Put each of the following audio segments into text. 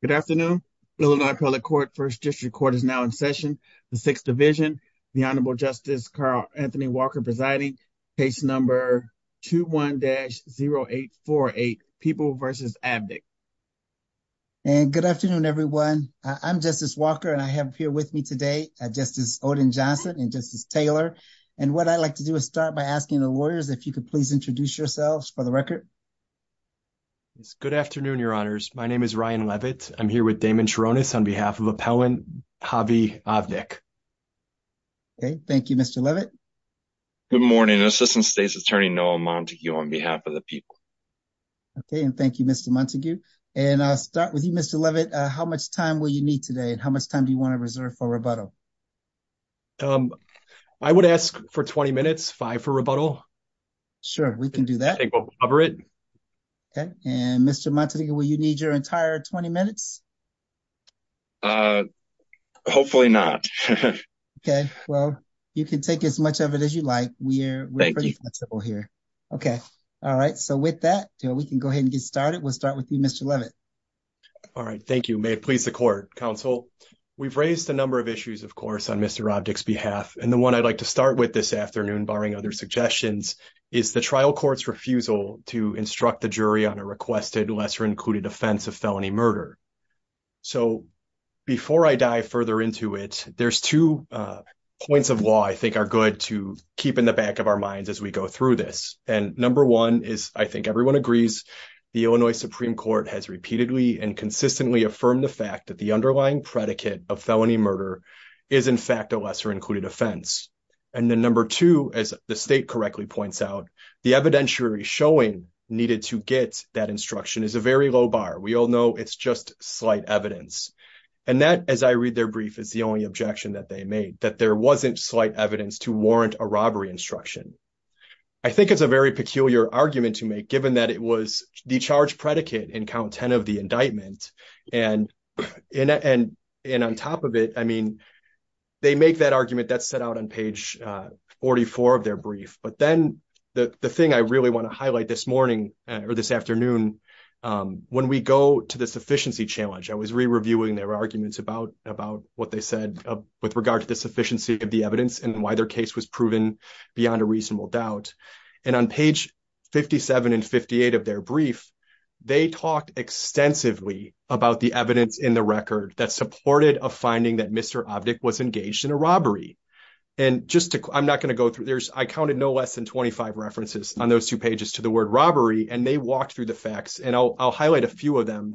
Good afternoon. Illinois Appellate Court, 1st District Court is now in session. The 6th Division, the Honorable Justice Carl Anthony Walker presiding, case number 21-0848, People v. Avdic. And good afternoon, everyone. I'm Justice Walker and I have here with me today Justice Odin Johnson and Justice Taylor. And what I'd like to do is start by asking the lawyers if you could please introduce yourselves for the record. Good afternoon, Your Honors. My name is Ryan Levitt. I'm here with Damon Charonis on behalf of Appellant Javi Avdic. Okay, thank you, Mr. Levitt. Good morning. Assistant State's Attorney Noah Montague on behalf of the people. Okay, and thank you, Mr. Montague. And I'll start with you, Mr. Levitt. How much time will you need today and how much time do you want to reserve for rebuttal? I would ask for 20 minutes, 5 for rebuttal. Sure, we can do that. And Mr. Montague, will you need your entire 20 minutes? Hopefully not. Okay, well, you can take as much of it as you like. We're pretty flexible here. Okay. All right. So with that, we can go ahead and get started. We'll start with you, Mr. Levitt. All right. Thank you. May it please the Court, Counsel. We've raised a number of issues, of course, on Mr. Avdic's behalf. And the one I'd like to start with this afternoon, barring other suggestions, is the trial court's refusal to instruct the jury on a requested lesser-included offense of felony murder. So, before I dive further into it, there's two points of law I think are good to keep in the back of our minds as we go through this. And number one is, I think everyone agrees, the Illinois Supreme Court has repeatedly and consistently affirmed the fact that the underlying predicate of felony murder is, in fact, a lesser-included offense. And then number two, as the state correctly points out, the evidentiary showing needed to get that instruction is a very low bar. We all know it's just slight evidence. And that, as I read their brief, is the only objection that they made, that there wasn't slight evidence to warrant a robbery instruction. I think it's a very peculiar argument to make, given that it was the charge predicate in count 10 of the indictment. And on top of it, I mean, they make that argument that's set out on page 44 of their brief. But then the thing I really want to highlight this morning or this afternoon, when we go to the sufficiency challenge, I was re-reviewing their arguments about what they said with regard to the sufficiency of the evidence and why their case was proven beyond a reasonable doubt. And on page 57 and 58 of their brief, they talked extensively about the evidence in the record that supported a finding that Mr. Obdick was engaged in a robbery. And just to, I'm not going to go through, I counted no less than 25 references on those two pages to the word robbery. And they walked through the facts. And I'll highlight a few of them.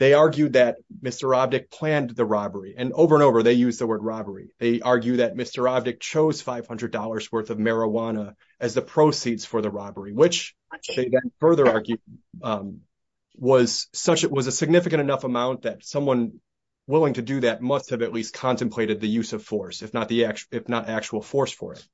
They argued that Mr. Obdick planned the robbery. And over and over, they used the word robbery. They argue that Mr. Obdick chose $500 worth of marijuana as the proceeds for the robbery, which they then further argued was a significant enough amount that someone willing to do that must have at least contemplated the use of force, if not actual force for it.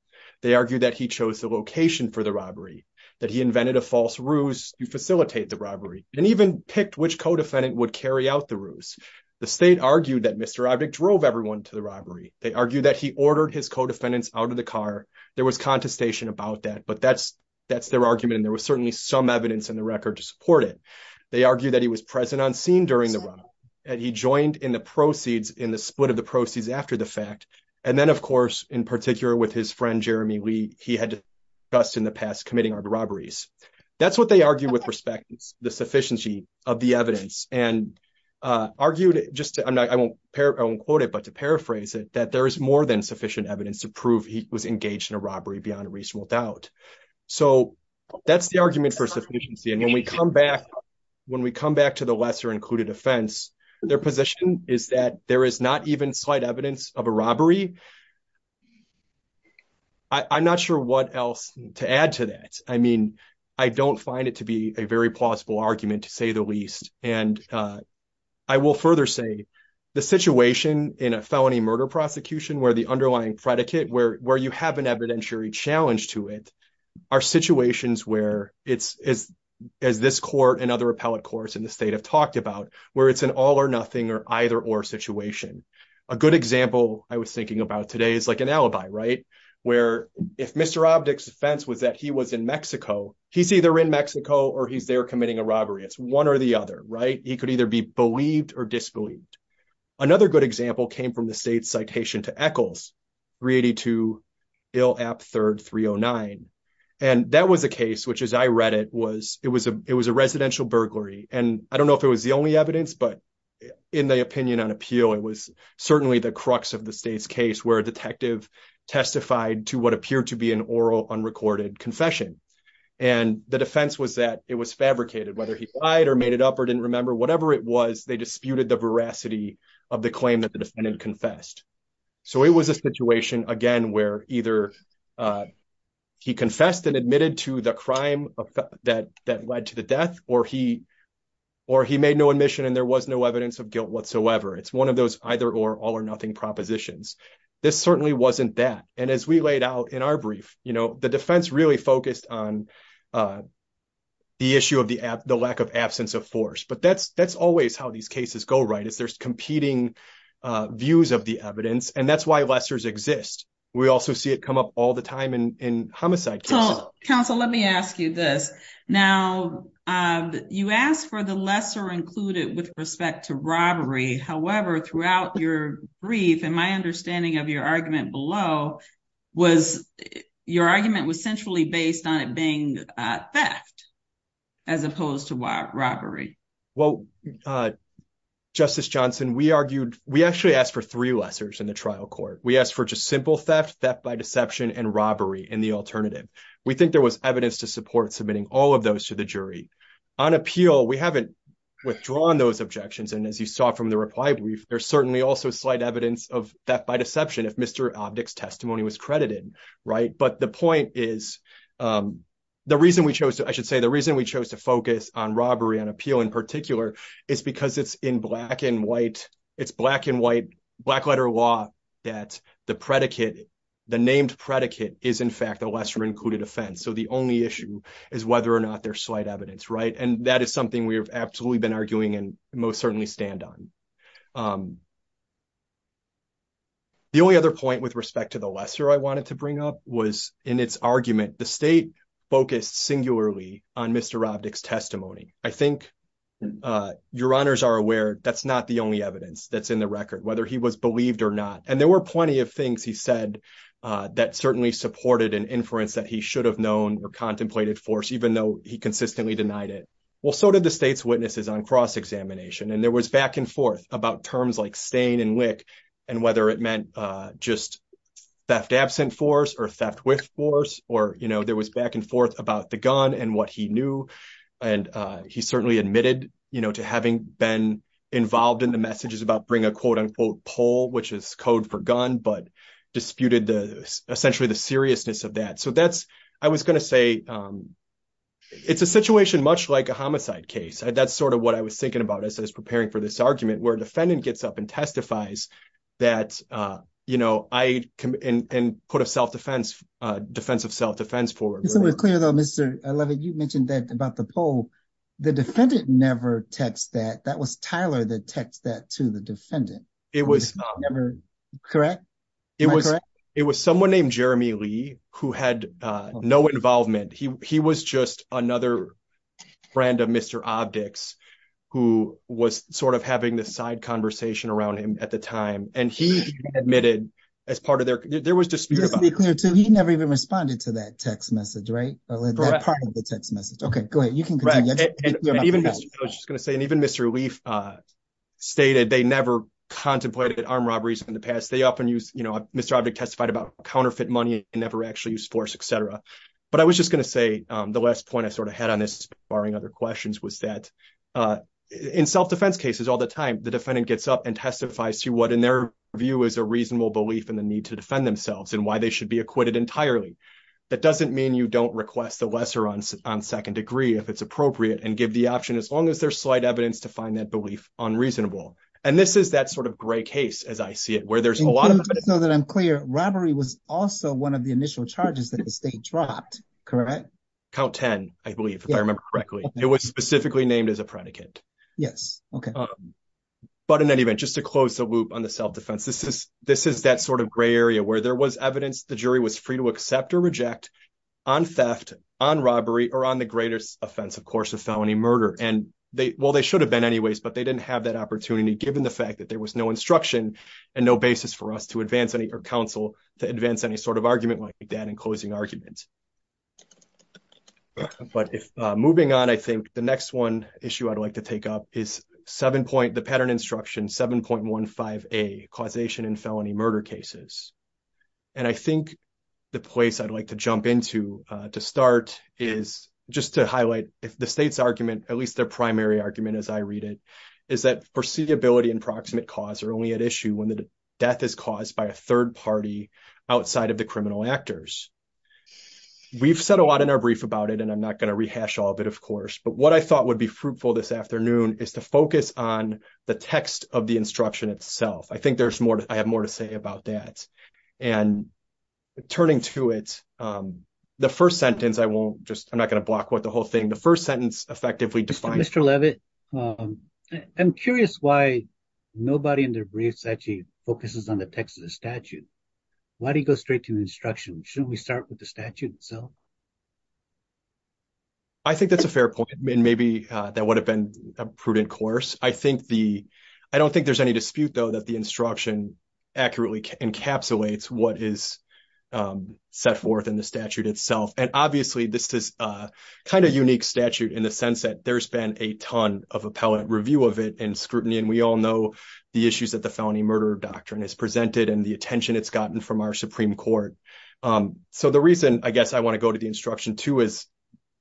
They argued that he chose the location for the robbery, that he invented a false ruse to facilitate the robbery, and even picked which co-defendant would carry out the ruse. The state argued that Mr. Obdick drove everyone to the robbery. They argued that he ordered his co-defendants out of the car. There was contestation about that, but that's their argument. And there was certainly some evidence in the record to support it. They argued that he was present on scene during the robbery, that he joined in the proceeds, in the split of the proceeds after the fact. And then, of course, in particular with his friend, Jeremy Lee, he had discussed in the past committing robberies. That's what they argued with respect to the sufficiency of the evidence. And argued, I won't quote it, but to paraphrase it, that there is more than sufficient evidence to prove he was engaged in a robbery beyond a reasonable doubt. So that's the argument for sufficiency. And when we come back to the lesser included offense, their position is that there is not even slight evidence of a robbery. I'm not sure what else to add to that. I mean, I don't find it to be a very plausible argument, to say the least. And I will further say the situation in a felony murder prosecution where the underlying predicate, where you have an evidentiary challenge to it, are situations where it's, as this court and other appellate courts in the state have talked about, where it's an all or nothing or either or situation. A good example I was thinking about today is like an alibi, right? Where if Mr. Obdick's defense was that he was in Mexico, he's either in Mexico or he's there committing a robbery. It's one or the other, right? He could either be believed or disbelieved. Another good example came from the state's citation to Eccles, 382 Ill App 3rd 309. And that was a case, which as I read it, it was a residential burglary. And I don't know if it was the only evidence, but in the opinion on appeal, it was certainly the crux of the state's case where a detective testified to what appeared to be an oral, unrecorded confession. And the defense was that it was fabricated, whether he lied or made it up or didn't remember, whatever it was, they disputed the veracity of the claim that the defendant confessed. So it was a situation, again, where either he confessed and admitted to the crime that led to the death or he made no admission and there was no evidence of guilt whatsoever. It's one of those either or all or nothing propositions. This certainly wasn't that. And as we laid out in our brief, the defense really focused on the issue of the lack of absence of force. But that's that's always how these cases go, right? Is there's competing views of the evidence? And that's why lessors exist. We also see it come up all the time in homicide. Counsel, let me ask you this. Now, you asked for the lesser included with respect to robbery. However, throughout your brief and my understanding of your argument below was your argument was centrally based on it being theft as opposed to robbery. Well, Justice Johnson, we argued we actually asked for three lessors in the trial court. We asked for just simple theft, theft by deception and robbery in the alternative. We think there was evidence to support submitting all of those to the jury on appeal. We haven't withdrawn those objections. And as you saw from the reply brief, there's certainly also slight evidence of theft by deception if Mr. Obdick's testimony was credited. Right. But the point is the reason we chose to I should say the reason we chose to focus on robbery and appeal in particular is because it's in black and white. It's black and white black letter law that the predicate, the named predicate is, in fact, a lesser included offense. So the only issue is whether or not there's slight evidence. Right. And that is something we have absolutely been arguing and most certainly stand on. The only other point with respect to the lesser I wanted to bring up was in its argument, the state focused singularly on Mr. Obdick's testimony. I think your honors are aware that's not the only evidence that's in the record, whether he was believed or not. And there were plenty of things he said that certainly supported an inference that he should have known or contemplated force, even though he consistently denied it. Well, so did the state's witnesses on cross-examination. And there was back and forth about terms like stain and lick and whether it meant just theft absent force or theft with force or there was back and forth about the gun and what he knew. And he certainly admitted to having been involved in the messages about bring a quote unquote poll, which is code for gun, but disputed the essentially the seriousness of that. So that's I was going to say it's a situation much like a homicide case. That's sort of what I was thinking about as I was preparing for this argument, where a defendant gets up and testifies that, you know, I can put a self-defense defense of self-defense for. So we're clear, though, Mr. Levitt, you mentioned that about the poll. The defendant never text that that was Tyler that text that to the defendant. It was never correct. It was it was someone named Jeremy Lee who had no involvement. He he was just another friend of Mr. objects who was sort of having this side conversation around him at the time. And he admitted as part of their there was just to be clear, too. He never even responded to that text message. Right. Well, that part of the text message. OK, go ahead. You can even just going to say, and even Mr. Leaf stated they never contemplated armed robberies in the past. They often use Mr. Object testified about counterfeit money and never actually use force, et cetera. But I was just going to say the last point I sort of had on this, barring other questions, was that in self-defense cases all the time, the defendant gets up and testifies to what, in their view, is a reasonable belief in the need to defend themselves and why they should be acquitted entirely. That doesn't mean you don't request the lesser on second degree if it's appropriate and give the option as long as there's slight evidence to find that belief unreasonable. And this is that sort of gray case, as I see it, where there's a lot of so that I'm clear. Robbery was also one of the initial charges that the state dropped. Correct. Count 10, I believe, if I remember correctly, it was specifically named as a predicate. Yes. OK, but in any event, just to close the loop on the self-defense, this is this is that sort of gray area where there was evidence. The jury was free to accept or reject on theft, on robbery or on the greatest offense, of course, of felony murder. And they well, they should have been anyways, but they didn't have that opportunity, given the fact that there was no instruction and no basis for us to advance any or counsel to advance any sort of argument like that in closing arguments. But if moving on, I think the next one issue I'd like to take up is seven point the pattern instruction seven point one five a causation in felony murder cases. And I think the place I'd like to jump into to start is just to highlight the state's argument, at least their primary argument, as I read it, is that foreseeability and proximate cause are only at issue when the death is caused by a third party outside of the criminal actors. We've said a lot in our brief about it, and I'm not going to rehash all of it, of course, but what I thought would be fruitful this afternoon is to focus on the text of the instruction itself. I think there's more. I have more to say about that. And turning to it, the first sentence, I won't just I'm not going to block with the whole thing. The first sentence effectively define Mr. Levitt. I'm curious why nobody in their briefs actually focuses on the text of the statute. Why do you go straight to instruction? Shouldn't we start with the statute itself? I think that's a fair point, and maybe that would have been a prudent course. I think the I don't think there's any dispute, though, that the instruction accurately encapsulates what is set forth in the statute itself. And obviously, this is kind of unique statute in the sense that there's been a ton of appellate review of it and scrutiny. And we all know the issues that the felony murder doctrine is presented and the attention it's gotten from our Supreme Court. So, the reason I guess I want to go to the instruction, too, is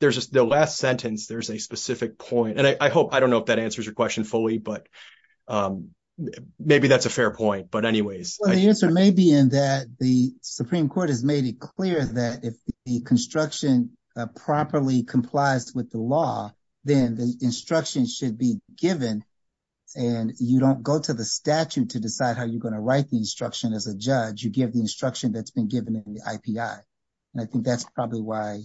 there's just the last sentence. There's a specific point. And I hope I don't know if that answers your question fully, but maybe that's a fair point. But anyways, the answer may be in that. The Supreme Court has made it clear that if the construction properly complies with the law, then the instruction should be given. And you don't go to the statute to decide how you're going to write the instruction as a judge. You give the instruction that's been given in the IPI. And I think that's probably why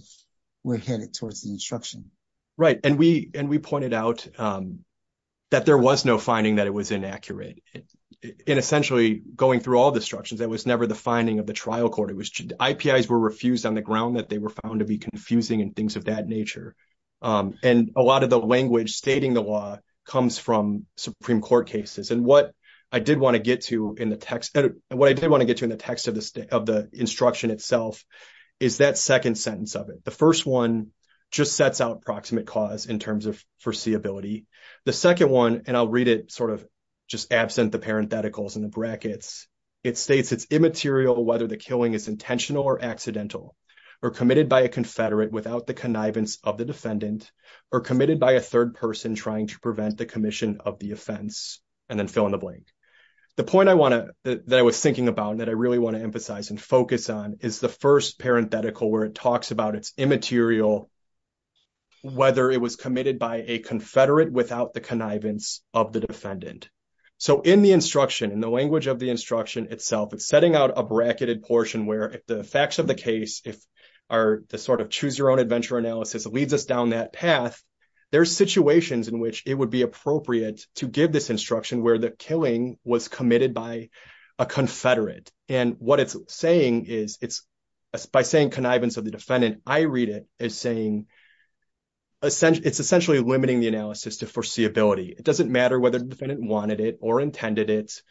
we're headed towards the instruction. Right. And we pointed out that there was no finding that it was inaccurate. And essentially, going through all the instructions, that was never the finding of the trial court. It was IPIs were refused on the ground that they were found to be confusing and things of that nature. And a lot of the language stating the law comes from Supreme Court cases. And what I did want to get to in the text of the instruction itself is that second sentence of it. The first one just sets out proximate cause in terms of foreseeability. The second one, and I'll read it sort of just absent the parentheticals and the brackets, it states it's immaterial whether the killing is intentional or accidental or committed by a confederate without the connivance of the defendant or committed by a third person trying to prevent the commission of the offense. And then fill in the blank. The point I want to that I was thinking about that I really want to emphasize and focus on is the first parenthetical where it talks about it's immaterial, whether it was committed by a confederate without the connivance of the defendant. So in the instruction, in the language of the instruction itself, setting out a bracketed portion where the facts of the case, if the sort of choose your own adventure analysis leads us down that path, there's situations in which it would be appropriate to give this instruction where the killing was committed by a confederate. And what it's saying is it's by saying connivance of the defendant, I read it as saying it's essentially limiting the analysis to foreseeability. It doesn't matter whether the defendant wanted it or intended it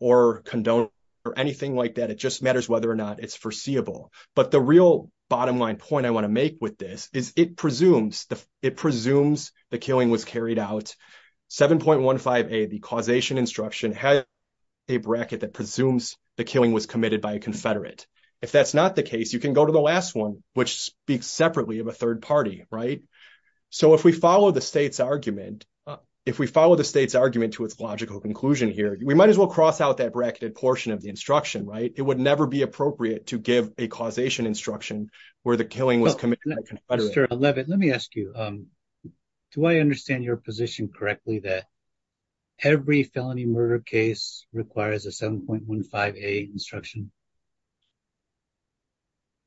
or condoned or anything like that. It just matters whether or not it's foreseeable. But the real bottom line point I want to make with this is it presumes the killing was carried out. 7.15a, the causation instruction has a bracket that presumes the killing was committed by a confederate. If that's not the case, you can go to the last one, which speaks separately of a third party, right? So if we follow the state's argument, if we follow the state's argument to its logical conclusion here, we might as well cross out that bracketed portion of the instruction, right? It would never be appropriate to give a causation instruction where the killing was committed by a confederate. Mr. Levitt, let me ask you, do I understand your position correctly that every felony murder case requires a 7.15a instruction?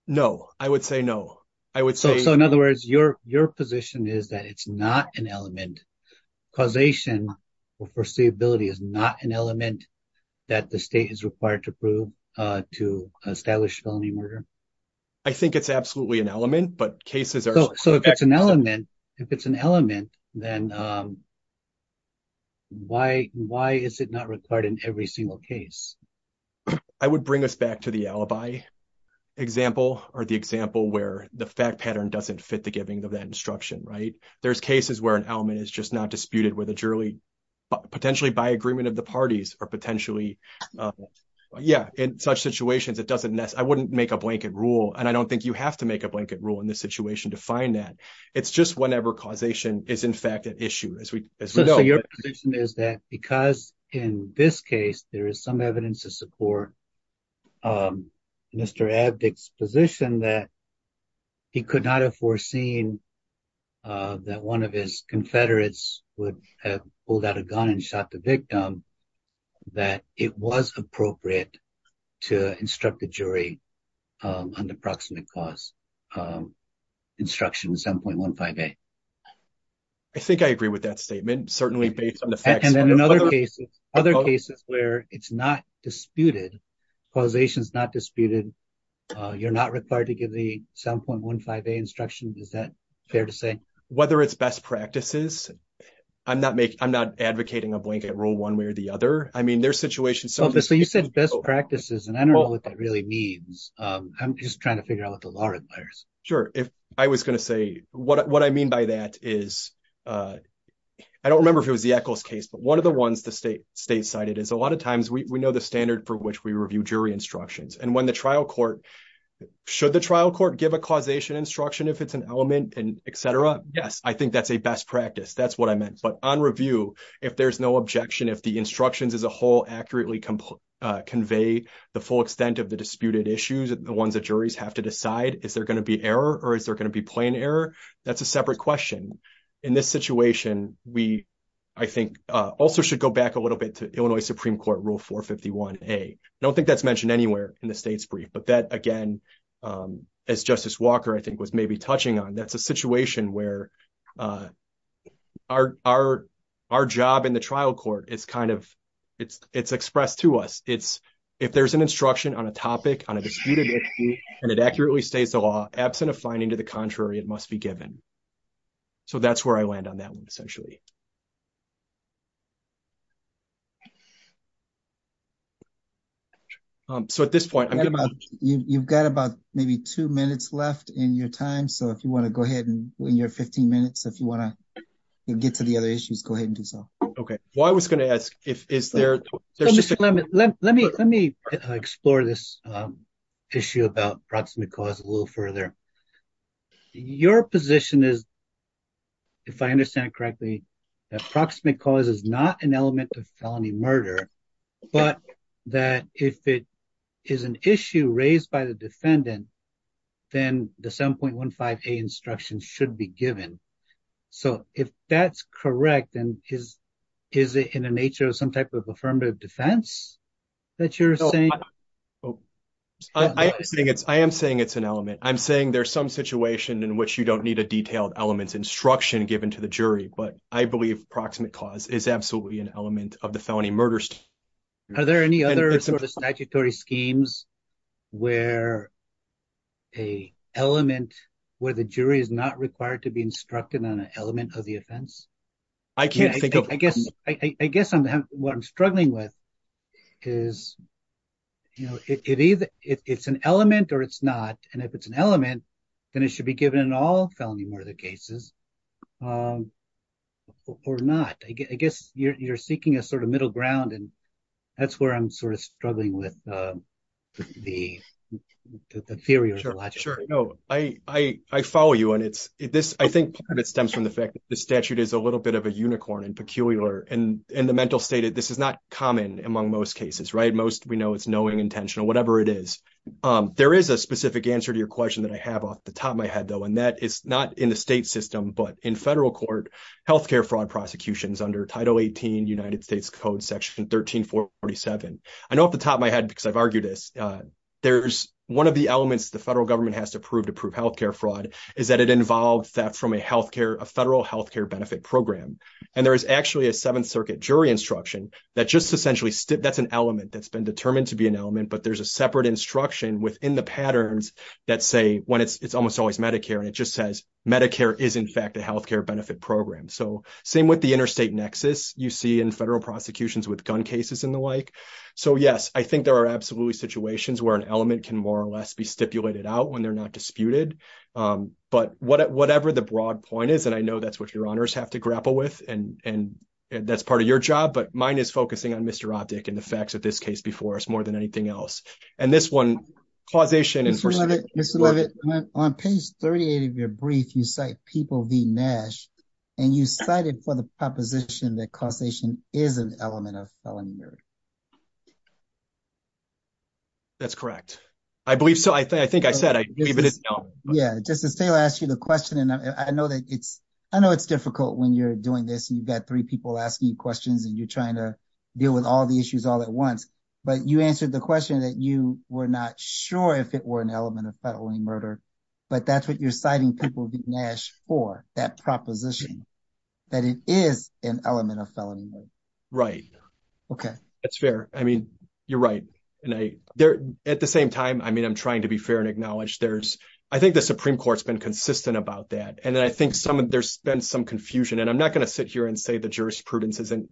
No, I would say no. I would say... So in other words, your position is that it's not an element, causation or foreseeability is not an element that the state is required to prove to establish felony murder? I think it's absolutely an element, but cases are... So if it's an element, then why is it not required in every single case? I would bring us back to the alibi example or the example where the fact pattern doesn't fit the giving of that instruction, right? There's cases where an element is just not disputed, potentially by agreement of the parties or potentially... Yeah, in such situations, it doesn't... I wouldn't make a blanket rule, and I don't think you have to make a blanket rule in this situation to find that. It's just whenever causation is in fact an issue, as we know. So your position is that because in this case, there is some evidence to support Mr. Abduck's position that he could not have foreseen that one of his confederates would have pulled out a gun and shot the victim, that it was appropriate to instruct the jury on the proximate cause. Instruction 7.15a. I think I agree with that statement, certainly based on the facts... And in other cases where it's not disputed, causation is not disputed, you're not required to give the 7.15a instruction. Is that fair to say? Whether it's best practices, I'm not advocating a blanket rule one way or the other. I mean, there's situations... Obviously, you said best practices, and I don't know what that really means. I'm just trying to figure out what the law requires. Sure. If I was going to say... What I mean by that is... I don't remember if it was the Eccles case, but one of the ones the state cited is a lot of times we know the standard for which we review jury instructions. And when the trial court... Should the trial court give a causation instruction if it's an element and etc.? Yes. I think that's a best practice. That's what I meant. But on review, if there's no objection, if the instructions as a whole accurately convey the full extent of the disputed issues, the ones that juries have to decide, is there going to be error or is there going to be plain error? That's a separate question. In this situation, we, I think, also should go back a little bit to Illinois Supreme Court Rule 451A. I don't think that's mentioned anywhere in the state's brief. But that, again, as Justice Walker, I think, was maybe touching on, that's a situation where our job in the trial court is kind of... It's expressed to us. If there's an instruction on a topic, on a disputed issue, and it accurately states the contrary, it must be given. So, that's where I land on that one, essentially. So, at this point... You've got about maybe two minutes left in your time. So, if you want to go ahead in your 15 minutes, if you want to get to the other issues, go ahead and do so. Okay. Well, I was going to ask if... Let me explore this issue about proximate cause a little further. Your position is, if I understand it correctly, that proximate cause is not an element of felony murder, but that if it is an issue raised by the defendant, then the 7.15A instruction should be given. So, if that's correct, then is it in the nature of some type of affirmative defense that you're saying? I am saying it's an element. I'm saying there's some situation in which you don't need a detailed elements instruction given to the jury, but I believe proximate cause is absolutely an element of the felony murder. Are there any other statutory schemes where a element, where the jury is not required to be instructed on an element of the offense? I can't think of... I guess what I'm struggling with is, it's an element or it's not. And if it's an element, then it should be given in all felony murder cases or not. I guess you're seeking a sort of middle ground and that's where I'm sort of struggling with the theory of logic. Sure. No, I follow you. And I think part of it stems from the fact that the statute is a little bit of a unicorn and peculiar. And the mental state, this is not common among most cases, right? Most we know it's knowing, intentional, whatever it is. There is a specific answer to your question that I have off the top of my head though, and that is not in the state system, but in federal court, healthcare fraud prosecutions under Title 18 United States Code Section 1347. I know off the top of my head, because I've argued this, there's one of the elements the federal government has to prove to prove healthcare fraud is that it involves theft from a federal healthcare benefit program. And there is actually a Seventh Circuit jury instruction that just essentially... That's an element that's been determined to be an element, but there's a separate instruction within the patterns that say when it's almost always Medicare, and it just says Medicare is in fact a healthcare benefit program. So same with the interstate nexus you see in federal prosecutions with gun cases and the like. So yes, I think there are absolutely situations where an element can more or less be stipulated out when they're not disputed. But whatever the broad point is, and I know that's what your honors have to grapple with, and that's part of your job, but mine is focusing on Mr. Optick and the facts of this case before us more than anything else. And this one, causation- Mr. Levitt, on page 38 of your brief, you cite People v. Nash, and you cited for the proposition that causation is an element of felony murder. That's correct. I believe so. I think I said I believe it is an element. Yeah. Justice Taylor asked you the question, and I know it's difficult when you're doing this, and you've got three people asking you questions, and you're trying to deal with all the issues all at once, but you answered the question that you were not sure if it were an element of felony murder. But that's what you're citing People v. Nash for, that proposition, that it is an element of felony murder. Right. Okay. That's fair. I mean, you're right. And at the same time, I mean, I'm trying to be fair and acknowledge there's, I think the Supreme Court's been consistent about that. I think there's been some confusion, and I'm not going to sit here and say the jurisprudence isn't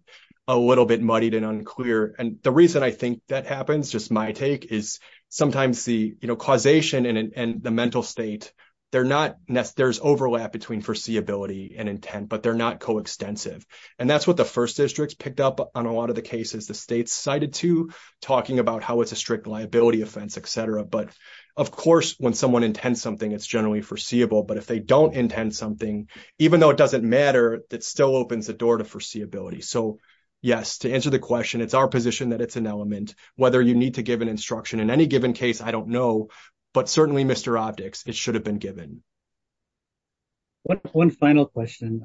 a little bit muddied and unclear. And the reason I think that happens, just my take, is sometimes the causation and the mental state, there's overlap between foreseeability and intent, but they're not coextensive. And that's what the First Districts picked up on a lot of the cases the states cited to, talking about how it's a strict liability offense, et cetera. But of course, when someone intends something, it's generally foreseeable. But if they don't intend something, even though it doesn't matter, that still opens the door to foreseeability. So yes, to answer the question, it's our position that it's an element. Whether you need to give an instruction in any given case, I don't know. But certainly, Mr. Opticks, it should have been given. One final question.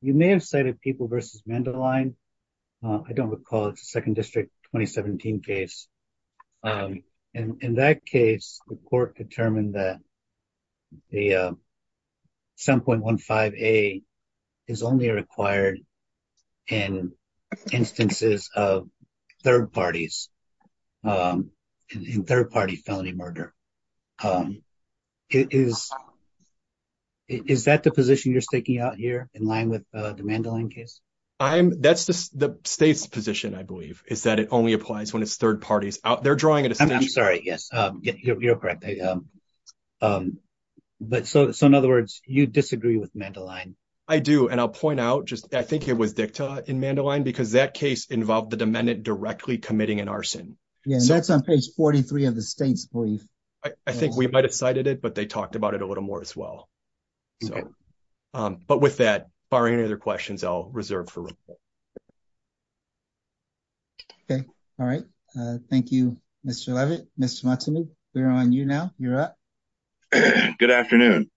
You may have cited People v. Mandeline. I don't recall. It's a Second District 2017 case. And in that case, the court determined that the 7.15a is only required in instances of third parties, in third-party felony murder. Is that the position you're staking out here, in line with the Mandeline case? That's the state's position, I believe, is that it only applies when it's third parties. They're drawing a distinction. I'm sorry. Yes, you're correct. So in other words, you disagree with Mandeline? I do. And I'll point out, I think it was DICTA in Mandeline, because that case involved the demendant directly committing an arson. Yeah, and that's on page 43 of the state's brief. I think we might have cited it, but they talked about it a little more as well. Okay. But with that, barring any other questions, I'll reserve for report. Okay. All right. Thank you, Mr. Levitt. Mr. Montague, we're on you now. You're up. Good afternoon.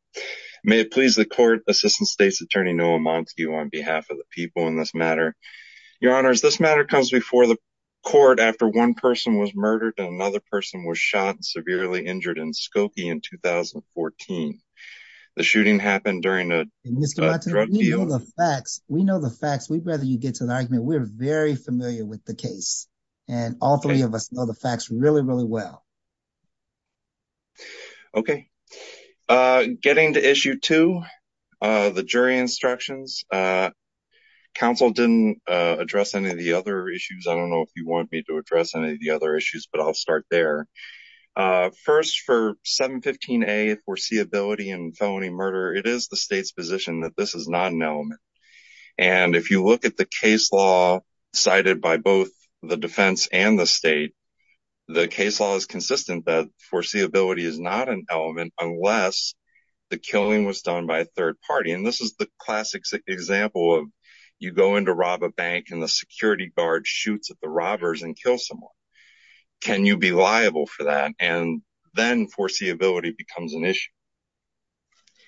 May it please the court, Assistant State's Attorney Noah Montague, on behalf of the people in this matter. Your Honors, this matter comes before the court after one person was murdered and another person was shot and severely injured in Skokie in 2014. The shooting happened during a drug deal. Mr. Montague, we know the facts. We'd rather you get to the argument. We're very familiar with the case. And all three of us know the facts really, really well. Okay. Getting to issue two, the jury instructions. Counsel didn't address any of the other issues. I don't know if you want me to address any of the other issues, but I'll start there. First, for 715A, foreseeability and felony murder, it is the state's position that this is not an element. And if you look at the case law cited by both the defense and the state, the case law is consistent that foreseeability is not an element unless the killing was done by a third party. And this is the classic example of you go in to rob a bank and the security guard shoots at the robbers and kills someone. Can you be liable for that? And then foreseeability becomes an issue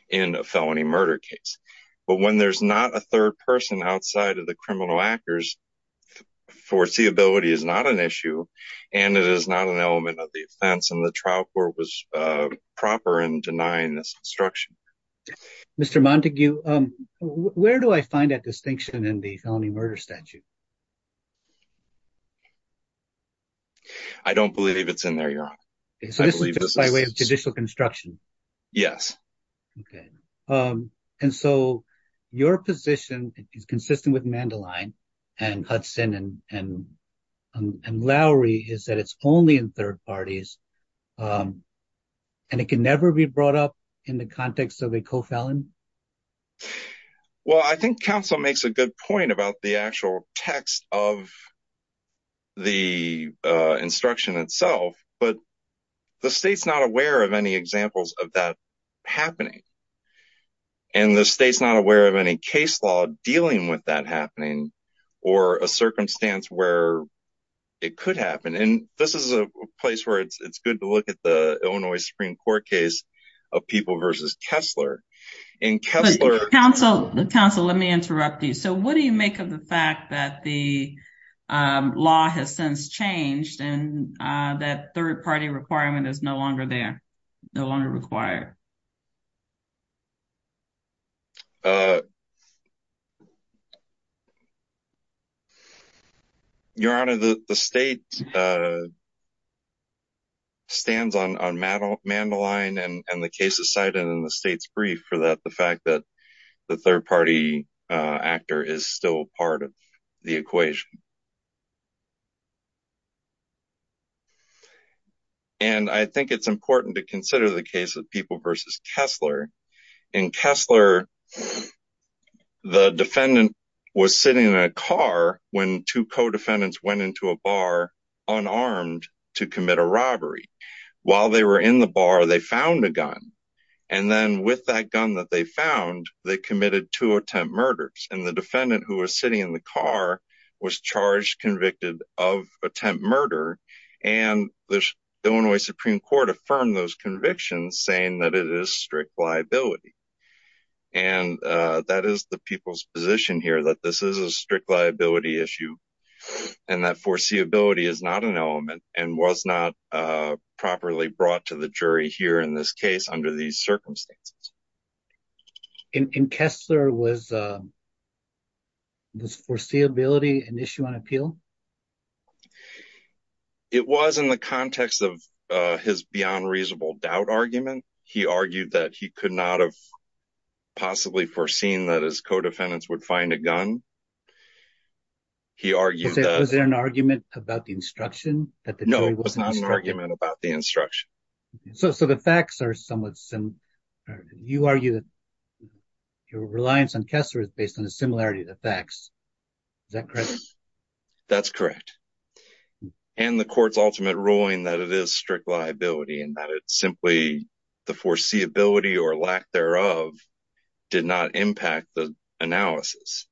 in a felony murder case. But when there's not a third person outside of the criminal actors, foreseeability is not an issue and it is not an element of the offense and the trial court was proper in denying this instruction. Mr. Montague, where do I find that distinction in the felony murder statute? I don't believe it's in there, Your Honor. So this is just by way of judicial construction? Yes. Okay. And so your position is consistent with Mandeline and Hudson and Lowry is that it's only in third parties and it can never be brought up in the context of a co-felon? Well, I think counsel makes a good point about the actual text of the instruction itself, but the state's not aware of any examples of that happening. And the state's not aware of any case law dealing with that happening or a circumstance where it could happen. And this is a place where it's good to look at the Illinois Supreme Court case of People v. Kessler. Counsel, let me interrupt you. So what do you make of the fact that the law has since changed and that third party requirement is no longer there, no longer required? Your Honor, the state stands on Mandeline and the case of Seidon and the state's brief for that, the fact that the third party actor is still part of the equation. And I think it's important to consider the case of People v. Kessler, and Kessler, the defendant was sitting in a car when two co-defendants went into a bar unarmed to commit a robbery. While they were in the bar, they found a gun. And then with that gun that they found, they committed two attempt murders. And the defendant who was sitting in the car was charged, convicted of attempt murder. And the Illinois Supreme Court affirmed those convictions saying that it is strict liability. And that is the people's position here, that this is a strict liability issue. And that foreseeability is not an element and was not properly brought to the jury here in this case under these circumstances. And Kessler, was this foreseeability an issue on appeal? It was in the context of his beyond reasonable doubt argument. He argued that he could not have possibly foreseen that his co-defendants would find a gun. He argued that... Was there an argument about the instruction? No, it was not an argument about the instruction. So the facts are somewhat similar. You argue that your reliance on Kessler is based on a similarity to the facts. Is that correct? That's correct. And the court's ultimate ruling that it is strict liability and that it's simply the foreseeability or lack thereof did not impact the analysis.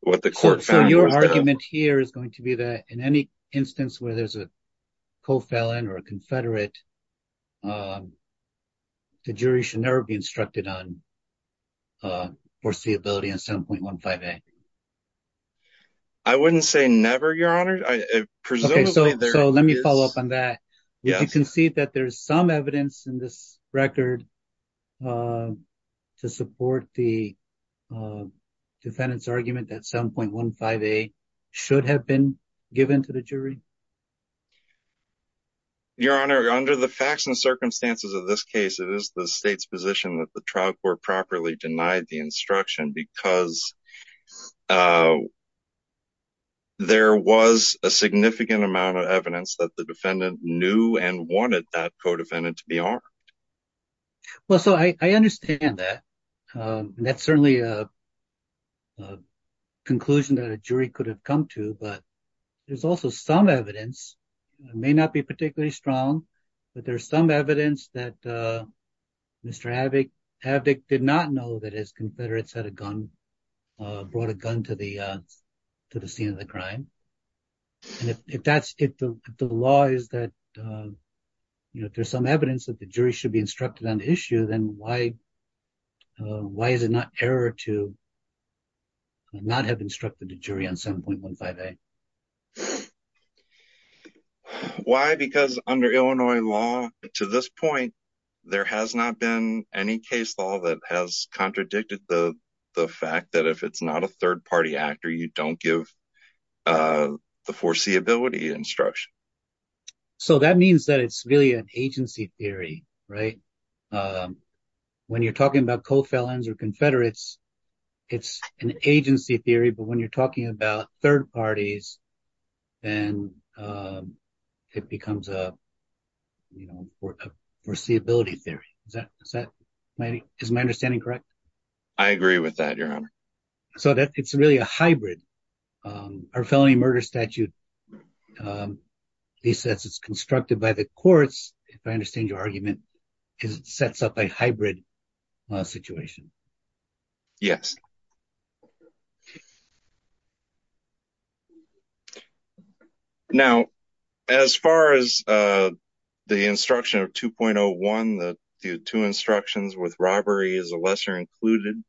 What the court found... So your argument here is going to be that in any instance where there's a co-felon or a confederate, the jury should never be instructed on foreseeability on 7.15a. I wouldn't say never, Your Honor. Presumably, there is... Okay, so let me follow up on that. Yes. Would you concede that there's some evidence in this record to support the defendant's argument that 7.15a should have been given to the jury? Your Honor, under the facts and circumstances of this case, it is the state's position that the trial court properly denied the instruction because there was a significant amount of evidence that the defendant knew and wanted that co-defendant to be armed. Well, so I understand that. That's certainly a conclusion that a jury could have come to. But there's also some evidence, it may not be particularly strong, but there's some evidence that Mr. Havdik did not know that his confederates had a gun brought a gun to the scene of the crime. And if the law is that there's some evidence that the jury should be instructed on the issue, then why is it not error to not have instructed the jury on 7.15a? Why? Because under Illinois law to this point, there has not been any case law that has a third party actor. You don't give the foreseeability instruction. So that means that it's really an agency theory, right? When you're talking about co-felons or confederates, it's an agency theory. But when you're talking about third parties, then it becomes a foreseeability theory. Is my understanding correct? I agree with that, Your Honor. So it's really a hybrid. Our felony murder statute, he says it's constructed by the courts, if I understand your argument, because it sets up a hybrid situation. Yes. Now, as far as the instruction of 2.01, the two instructions with robbery is a lesser included.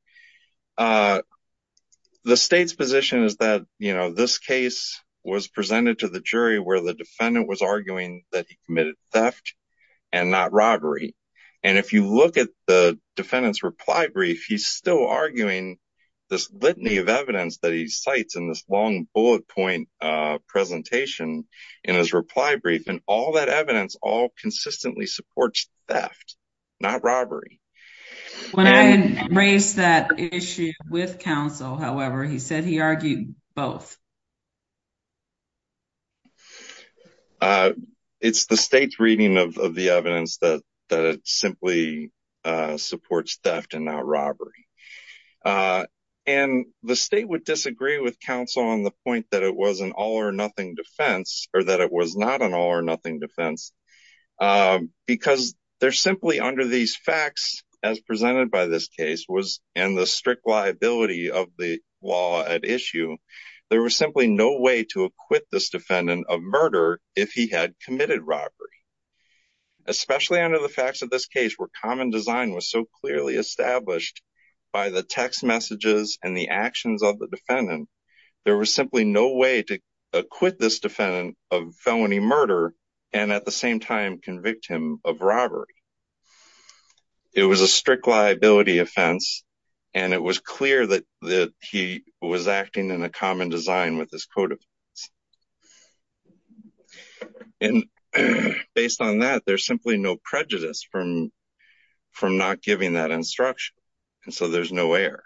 The state's position is that this case was presented to the jury where the defendant was arguing that he committed theft and not robbery. And if you look at the defendant's reply brief, he's still arguing this litany of evidence that he cites in this long bullet point presentation in his reply brief. And all that evidence all consistently supports theft, not robbery. When I raised that issue with counsel, however, he said he argued both. It's the state's reading of the evidence that simply supports theft and not robbery. And the state would disagree with counsel on the point that it was an all or nothing defense, or that it was not an all or nothing defense, because they're simply under these facts, as presented by this case, was in the strict liability of the law at issue. There was simply no way to acquit this defendant of murder if he had committed robbery, especially under the facts of this case where common design was so clearly established by the text messages and the actions of the defendant. There was simply no way to acquit this defendant of felony murder. And at the same time, convict him of robbery. It was a strict liability offense. And it was clear that he was acting in a common design with this code. And based on that, there's simply no prejudice from not giving that instruction. And so there's no error.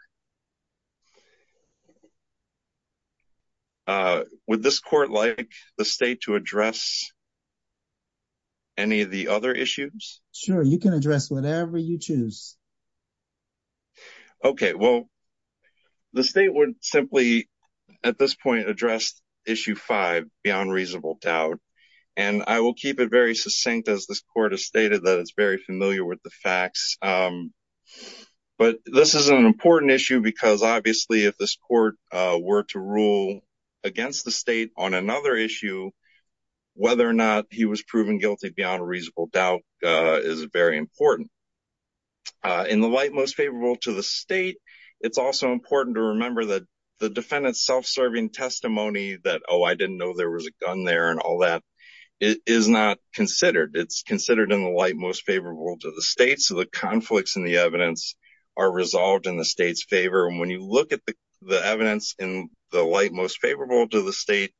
Would this court like the state to address any of the other issues? Sure, you can address whatever you choose. Okay, well, the state would simply, at this point, address issue five, beyond reasonable doubt. And I will keep it very succinct, as this court has stated that it's very familiar with the facts. But this is an important issue. Because obviously, if this court were to rule against the state on another issue, whether or not he was proven guilty beyond a reasonable doubt is very important. In the light most favorable to the state, it's also important to remember that the defendant's self-serving testimony that, oh, I didn't know there was a gun there and all that, is not considered. It's considered in the light most favorable to the state. So the conflicts in the evidence are resolved in the state's favor. And when you look at the evidence in the light most favorable to the state,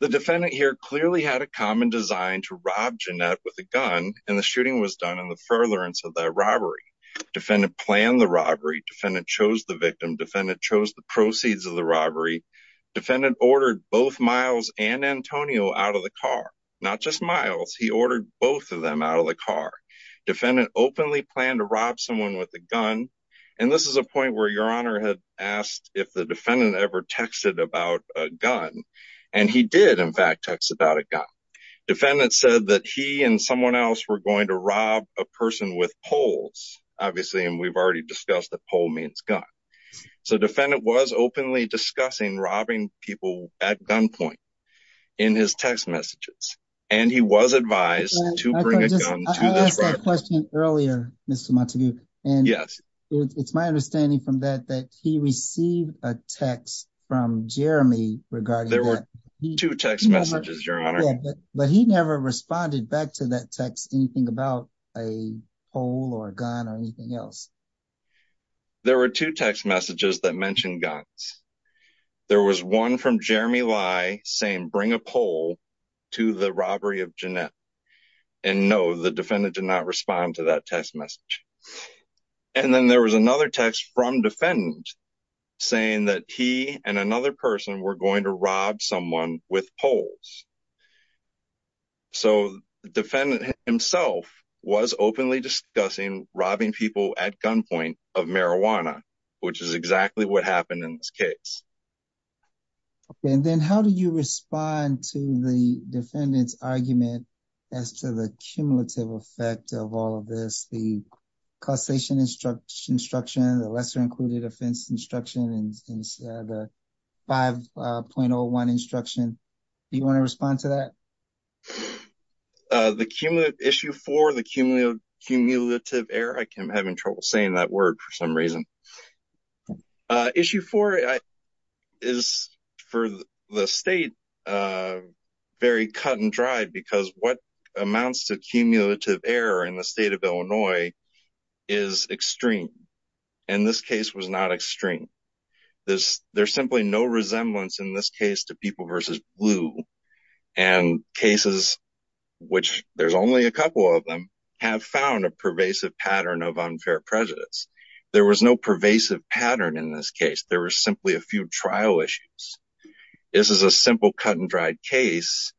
the defendant here clearly had a common design to rob Jeanette with a gun, and the shooting was done in the furtherance of that robbery. Defendant planned the robbery. Defendant chose the victim. Defendant chose the proceeds of the robbery. Defendant ordered both Miles and Antonio out of the car. Not just Miles. He ordered both of them out of the car. Defendant openly planned to rob someone with a gun. And this is a point where Your Honor had asked if the defendant ever texted about a gun. And he did, in fact, text about a gun. Defendant said that he and someone else were going to rob a person with poles, obviously, and we've already discussed that pole means gun. So defendant was openly discussing robbing people at gunpoint in his text messages. And he was advised to bring a gun to this robbery. I asked that question earlier, Mr. Montague. And it's my understanding from that that he received a text from Jeremy regarding that. There were two text messages, Your Honor. But he never responded back to that text anything about a pole or a gun or anything else. There were two text messages that mentioned guns. There was one from Jeremy Lai saying, bring a pole to the robbery of Jeanette. And no, the defendant did not respond to that text message. And then there was another text from defendant saying that he and another person were going to rob someone with poles. So defendant himself was openly discussing robbing people at gunpoint of marijuana, which is exactly what happened in this case. Okay. And then how do you respond to the defendant's argument as to the cumulative effect of all of this, the causation instruction, the lesser included offense instruction and the 5.01 instruction? Do you want to respond to that? The issue for the cumulative error, I'm having trouble saying that word for some reason. The issue for the state is very cut and dried because what amounts to cumulative error in the state of Illinois is extreme. And this case was not extreme. There's simply no resemblance in this case to people versus blue. And cases, which there's only a couple of them, have found a pervasive pattern of unfair prejudice. There was no pervasive pattern in this case. There were simply a few trial issues. This is a simple cut and dried case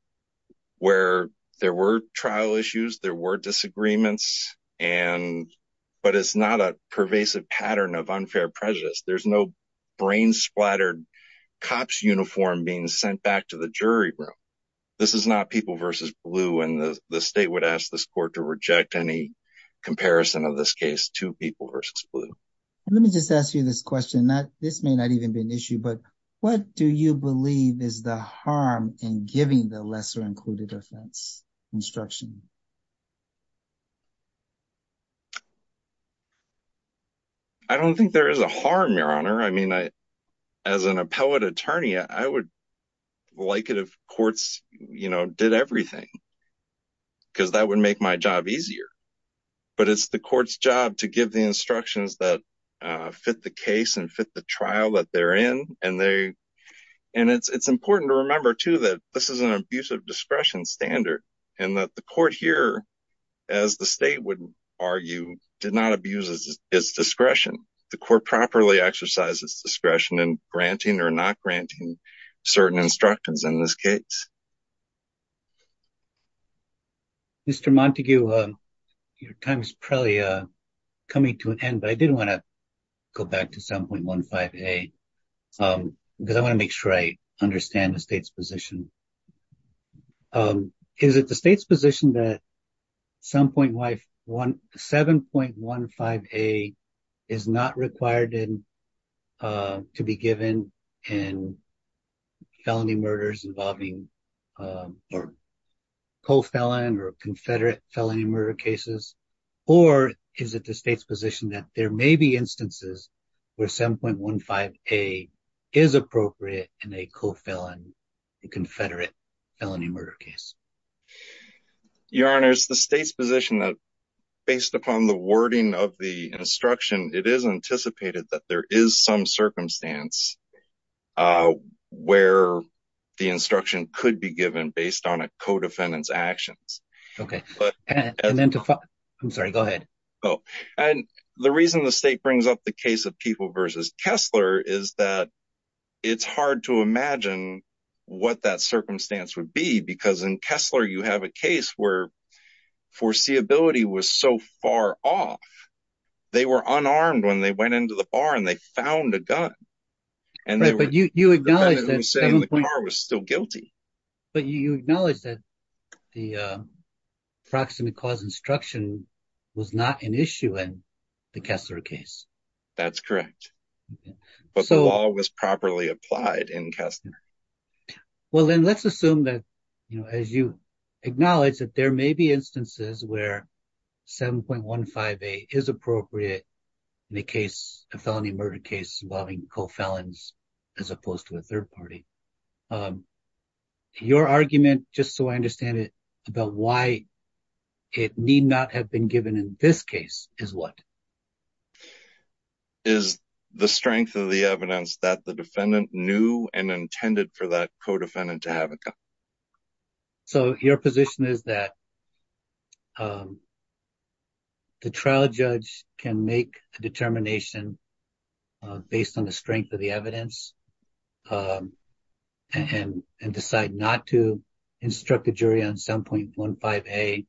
where there were trial issues, there were disagreements, but it's not a pervasive pattern of unfair prejudice. There's no brain splattered cop's uniform being sent back to the jury room. This is not people versus blue and the state would ask this court to reject any blue. Let me just ask you this question. This may not even be an issue, but what do you believe is the harm in giving the lesser included offense instruction? I don't think there is a harm, Your Honor. I mean, as an appellate attorney, I would like it if courts, you know, did everything because that would make my job easier. But it's the court's job to give the instructions that fit the case and fit the trial that they're in. And it's important to remember, too, that this is an abuse of discretion standard and that the court here, as the state would argue, did not abuse its discretion. The court properly exercises discretion in granting or not granting certain instructions in this case. Mr. Montague, your time is probably coming to an end, but I did want to go back to 7.15a because I want to make sure I understand the state's position. Is it the state's position that 7.15a is not required to be given in felony murders involving or co-felon or confederate felony murder cases? Or is it the state's position that there may be instances where 7.15a is appropriate in a co-felon, a confederate felony murder case? Your Honor, it's the state's position that based upon the wording of the instruction, it is anticipated that there is some circumstance where the instruction could be given based on a co-defendant's actions. And the reason the state brings up the case of People v. Kessler is that it's hard to imagine what that circumstance would be because in Kessler, you have a case where foreseeability was so far off. They were unarmed when they went into the bar and they found a gun. But you acknowledge that the car was still guilty. But you acknowledge that the proximate cause instruction was not an issue in the Kessler case. That's correct. But the law was properly applied in Kessler. Well, then let's assume that as you acknowledge that there may be instances where 7.15a is appropriate in a felony murder case involving co-felons as opposed to a third party, your argument, just so I understand it, about why it need not have been given in this case is what? Is the strength of the evidence that the defendant knew and intended for that co-defendant to have a gun. So your position is that the trial judge can make a determination based on the strength of the evidence and decide not to instruct the jury on 7.15a,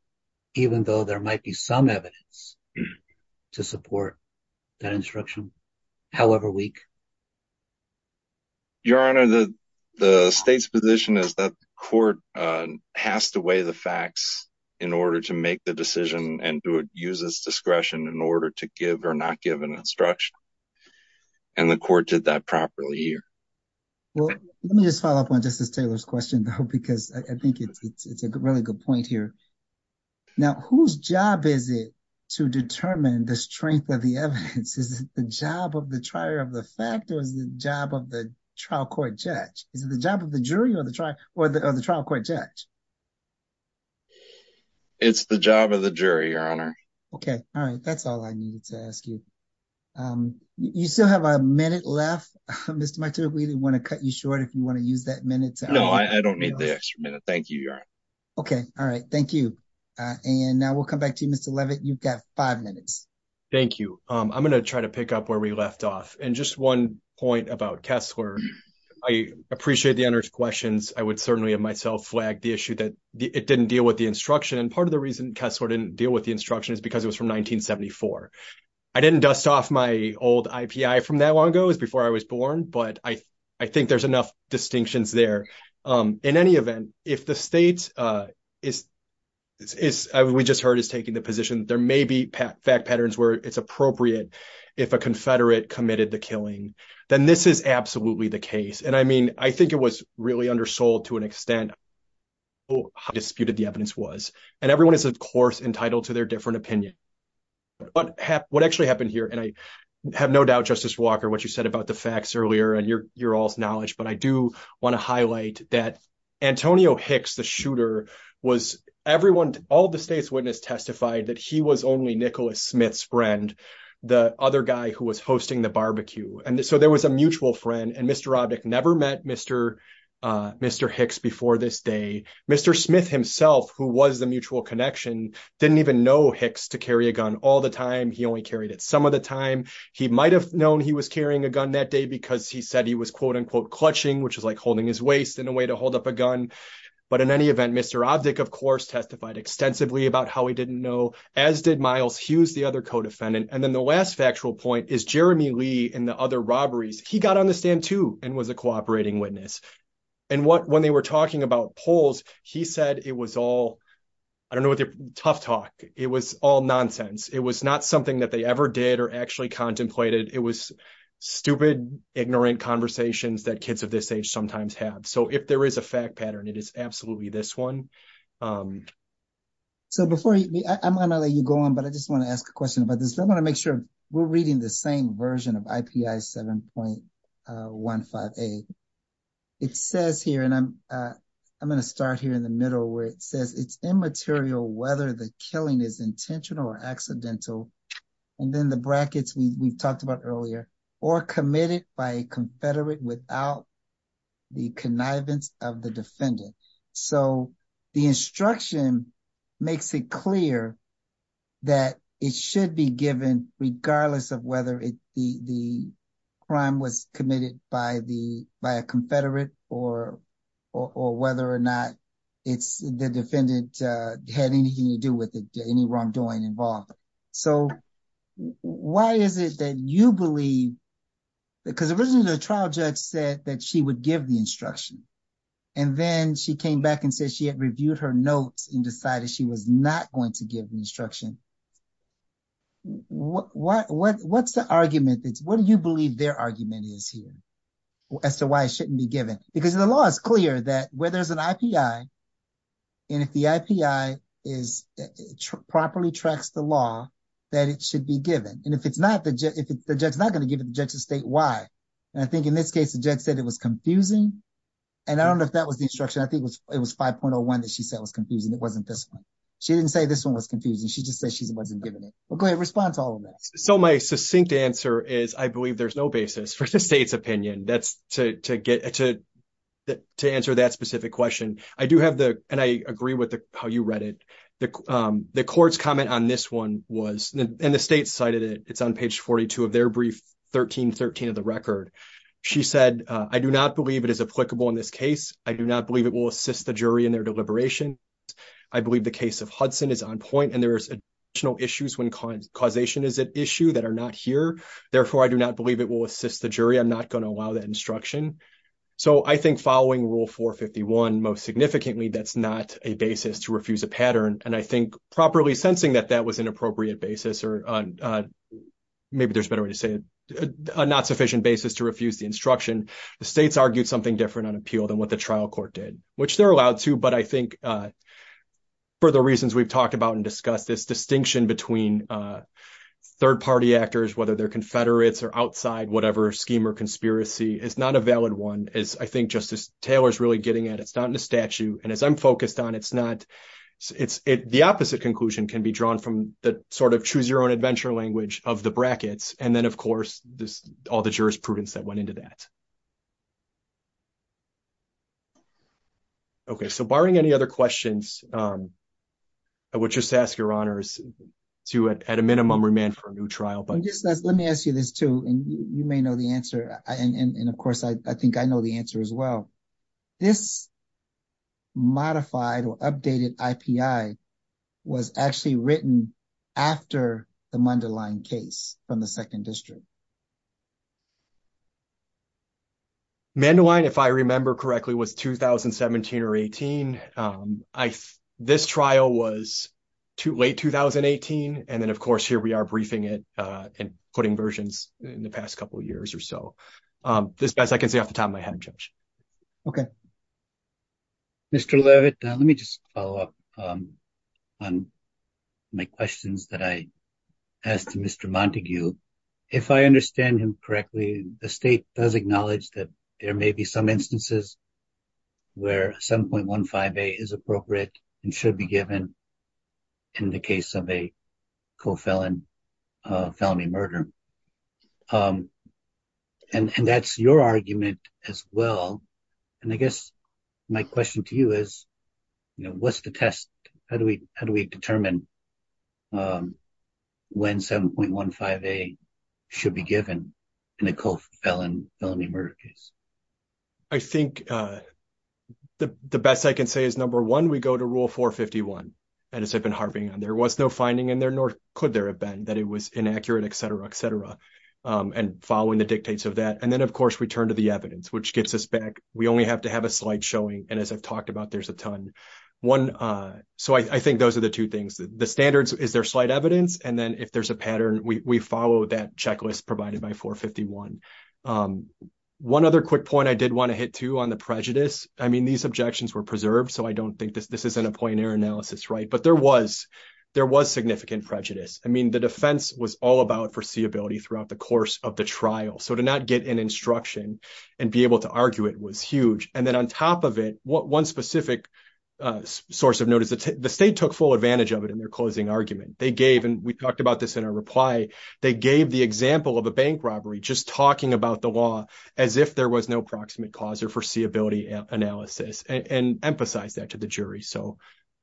even though there might be some evidence to support that instruction, however weak? Your Honor, the state's position is that the court has to weigh the facts in order to make the decision and do it use its discretion in order to give or not give an instruction. And the court did that properly here. Well, let me just follow up on Justice Taylor's question, though, because I think it's a really good point here. Now, whose job is it to determine the strength of the evidence? Is it the job of the trier of the fact or is the job of the trial court judge? Is it the job of the jury or the trial or the trial court judge? It's the job of the jury, Your Honor. OK, all right. That's all I needed to ask you. You still have a minute left. Mr. Martin, we didn't want to cut you short if you want to use that minute. No, I don't need this minute. Thank you, Your Honor. OK, all right. Thank you. And now we'll come back to you, Mr. Levitt. You've got five minutes. Thank you. I'm going to try to pick up where we left off. And just one point about Kessler. I appreciate the questions. I would certainly have myself flagged the issue that it didn't deal with the instruction. And part of the reason Kessler didn't deal with the instruction is because it was from 1974. I didn't dust off my old IPI from that long ago. It was before I was born. But I think there's enough distinctions there. In any event, if the state is, as we just heard, is taking the position there may be fact patterns where it's appropriate if a confederate committed the killing, then this is absolutely the case. And I mean, I think it was really undersold to an extent how disputed the evidence was. And everyone is, of course, entitled to their different opinion. What actually happened here, and I have no doubt, Justice Walker, what you said about the facts earlier and your all's knowledge, but I do want to highlight that Antonio Hicks, the shooter, was everyone, all the state's witness testified that he was only Nicholas Smith's friend, the other guy who was hosting the barbecue. And so there was a mutual friend. And Mr. Robick never met Mr. Hicks before this day. Mr. Smith himself, who was the mutual connection, didn't even know Hicks to carry a gun all the time. He only carried it some of the time. He might have known he was carrying a gun that day because he said he was, quote unquote, But in any event, Mr. Robick, of course, testified extensively about how he didn't know, as did Miles Hughes, the other co-defendant. And then the last factual point is Jeremy Lee and the other robberies. He got on the stand, too, and was a cooperating witness. And when they were talking about polls, he said it was all, I don't know, tough talk. It was all nonsense. It was not something that they ever did or actually contemplated. It was stupid, ignorant conversations that kids of this age sometimes have. So if there is a fact pattern, it is absolutely this one. So before I'm going to let you go on, but I just want to ask a question about this. I want to make sure we're reading the same version of IPI 7.158. It says here, and I'm going to start here in the middle, where it says it's immaterial whether the killing is intentional or accidental. And then the brackets we've talked about earlier, or committed by a confederate without the connivance of the defendant. So the instruction makes it clear that it should be given regardless of whether the crime was committed by a confederate or whether or not it's the defendant had anything to do with it, any wrongdoing involved. So why is it that you believe, because originally the trial judge said that she would give the instruction. And then she came back and said she had reviewed her notes and decided she was not going to give the instruction. What's the argument? What do you believe their argument is here as to why it shouldn't be given? Because the law is clear that where there's an IPI, and if the IPI properly tracks the that it should be given. And if the judge is not going to give it, the judge should state why. And I think in this case, the judge said it was confusing. And I don't know if that was the instruction. I think it was 5.01 that she said was confusing. It wasn't this one. She didn't say this one was confusing. She just said she wasn't giving it. Well, go ahead, respond to all of that. So my succinct answer is I believe there's no basis for the state's opinion to answer that specific question. I do have the, and I agree with how you read it. The court's comment on this one was, and the state cited it, it's on page 42 of their brief 1313 of the record. She said, I do not believe it is applicable in this case. I do not believe it will assist the jury in their deliberation. I believe the case of Hudson is on point. And there's additional issues when causation is an issue that are not here. Therefore, I do not believe it will assist the jury. I'm not going to allow that instruction. So I think following Rule 451, most significantly, that's not a basis to refuse a pattern. I think properly sensing that that was an appropriate basis, or maybe there's a better way to say it, a not sufficient basis to refuse the instruction, the states argued something different on appeal than what the trial court did, which they're allowed to. But I think for the reasons we've talked about and discussed, this distinction between third party actors, whether they're Confederates or outside whatever scheme or conspiracy, is not a valid one, as I think Justice Taylor's really getting at. It's not in the statute. And as I'm focused on, the opposite conclusion can be drawn from the sort of choose your own adventure language of the brackets. And then, of course, all the jurisprudence that went into that. OK, so barring any other questions, I would just ask your honors to, at a minimum, remand for a new trial. But just let me ask you this, too. And you may know the answer. And of course, I think I know the answer as well. This modified or updated IPI was actually written after the Mandeline case from the 2nd District. Mandeline, if I remember correctly, was 2017 or 18. This trial was late 2018. And then, of course, here we are briefing it and putting versions in the past couple of years or so. OK. Mr. Levitt, let me just follow up on my questions that I asked Mr. Montague. If I understand him correctly, the state does acknowledge that there may be some instances where 7.15a is appropriate and should be given in the case of a co-felon felony murder. And that's your argument as well. And I guess my question to you is, what's the test? How do we determine when 7.15a should be given in a co-felon felony murder case? I think the best I can say is, number one, we go to Rule 451, as I've been harping on. There was no finding in there, nor could there have been, that it was inaccurate, et cetera, et cetera, and following the dictates of that. And then, of course, we turn to the evidence, which gets us back. We only have to have a slide showing. And as I've talked about, there's a ton. One, so I think those are the two things. The standards, is there slight evidence? And then if there's a pattern, we follow that checklist provided by 451. One other quick point I did want to hit, too, on the prejudice. I mean, these objections were preserved. So I don't think this isn't a point in your analysis, right? But there was significant prejudice. I mean, the defense was all about foreseeability throughout the course of the trial. So to not get an instruction and be able to argue it was huge. And then on top of it, one specific source of notice, the state took full advantage of it in their closing argument. They gave, and we talked about this in our reply, they gave the example of a bank robbery, just talking about the law as if there was no proximate cause or foreseeability analysis, and emphasized that to the jury. So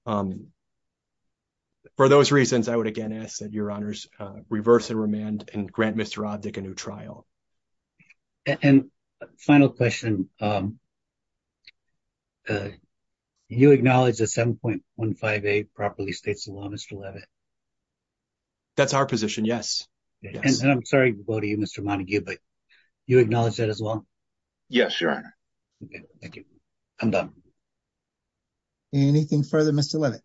for those reasons, I would again ask that your honors reverse the remand and grant Mr. Abduck a new trial. And final question. You acknowledge that 7.15a properly states the law, Mr. Levitt? That's our position, yes. And I'm sorry to go to you, Mr. Montague, but you acknowledge that as well? Yes, your honor. Thank you. I'm done. Anything further, Mr. Levitt?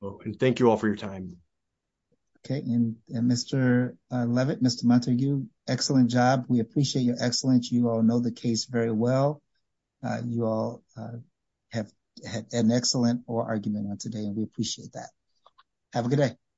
And thank you all for your time. Okay, and Mr. Levitt, Mr. Montague, excellent job. We appreciate your excellence. You all know the case very well. You all had an excellent oral argument on today, and we appreciate that. Have a good day.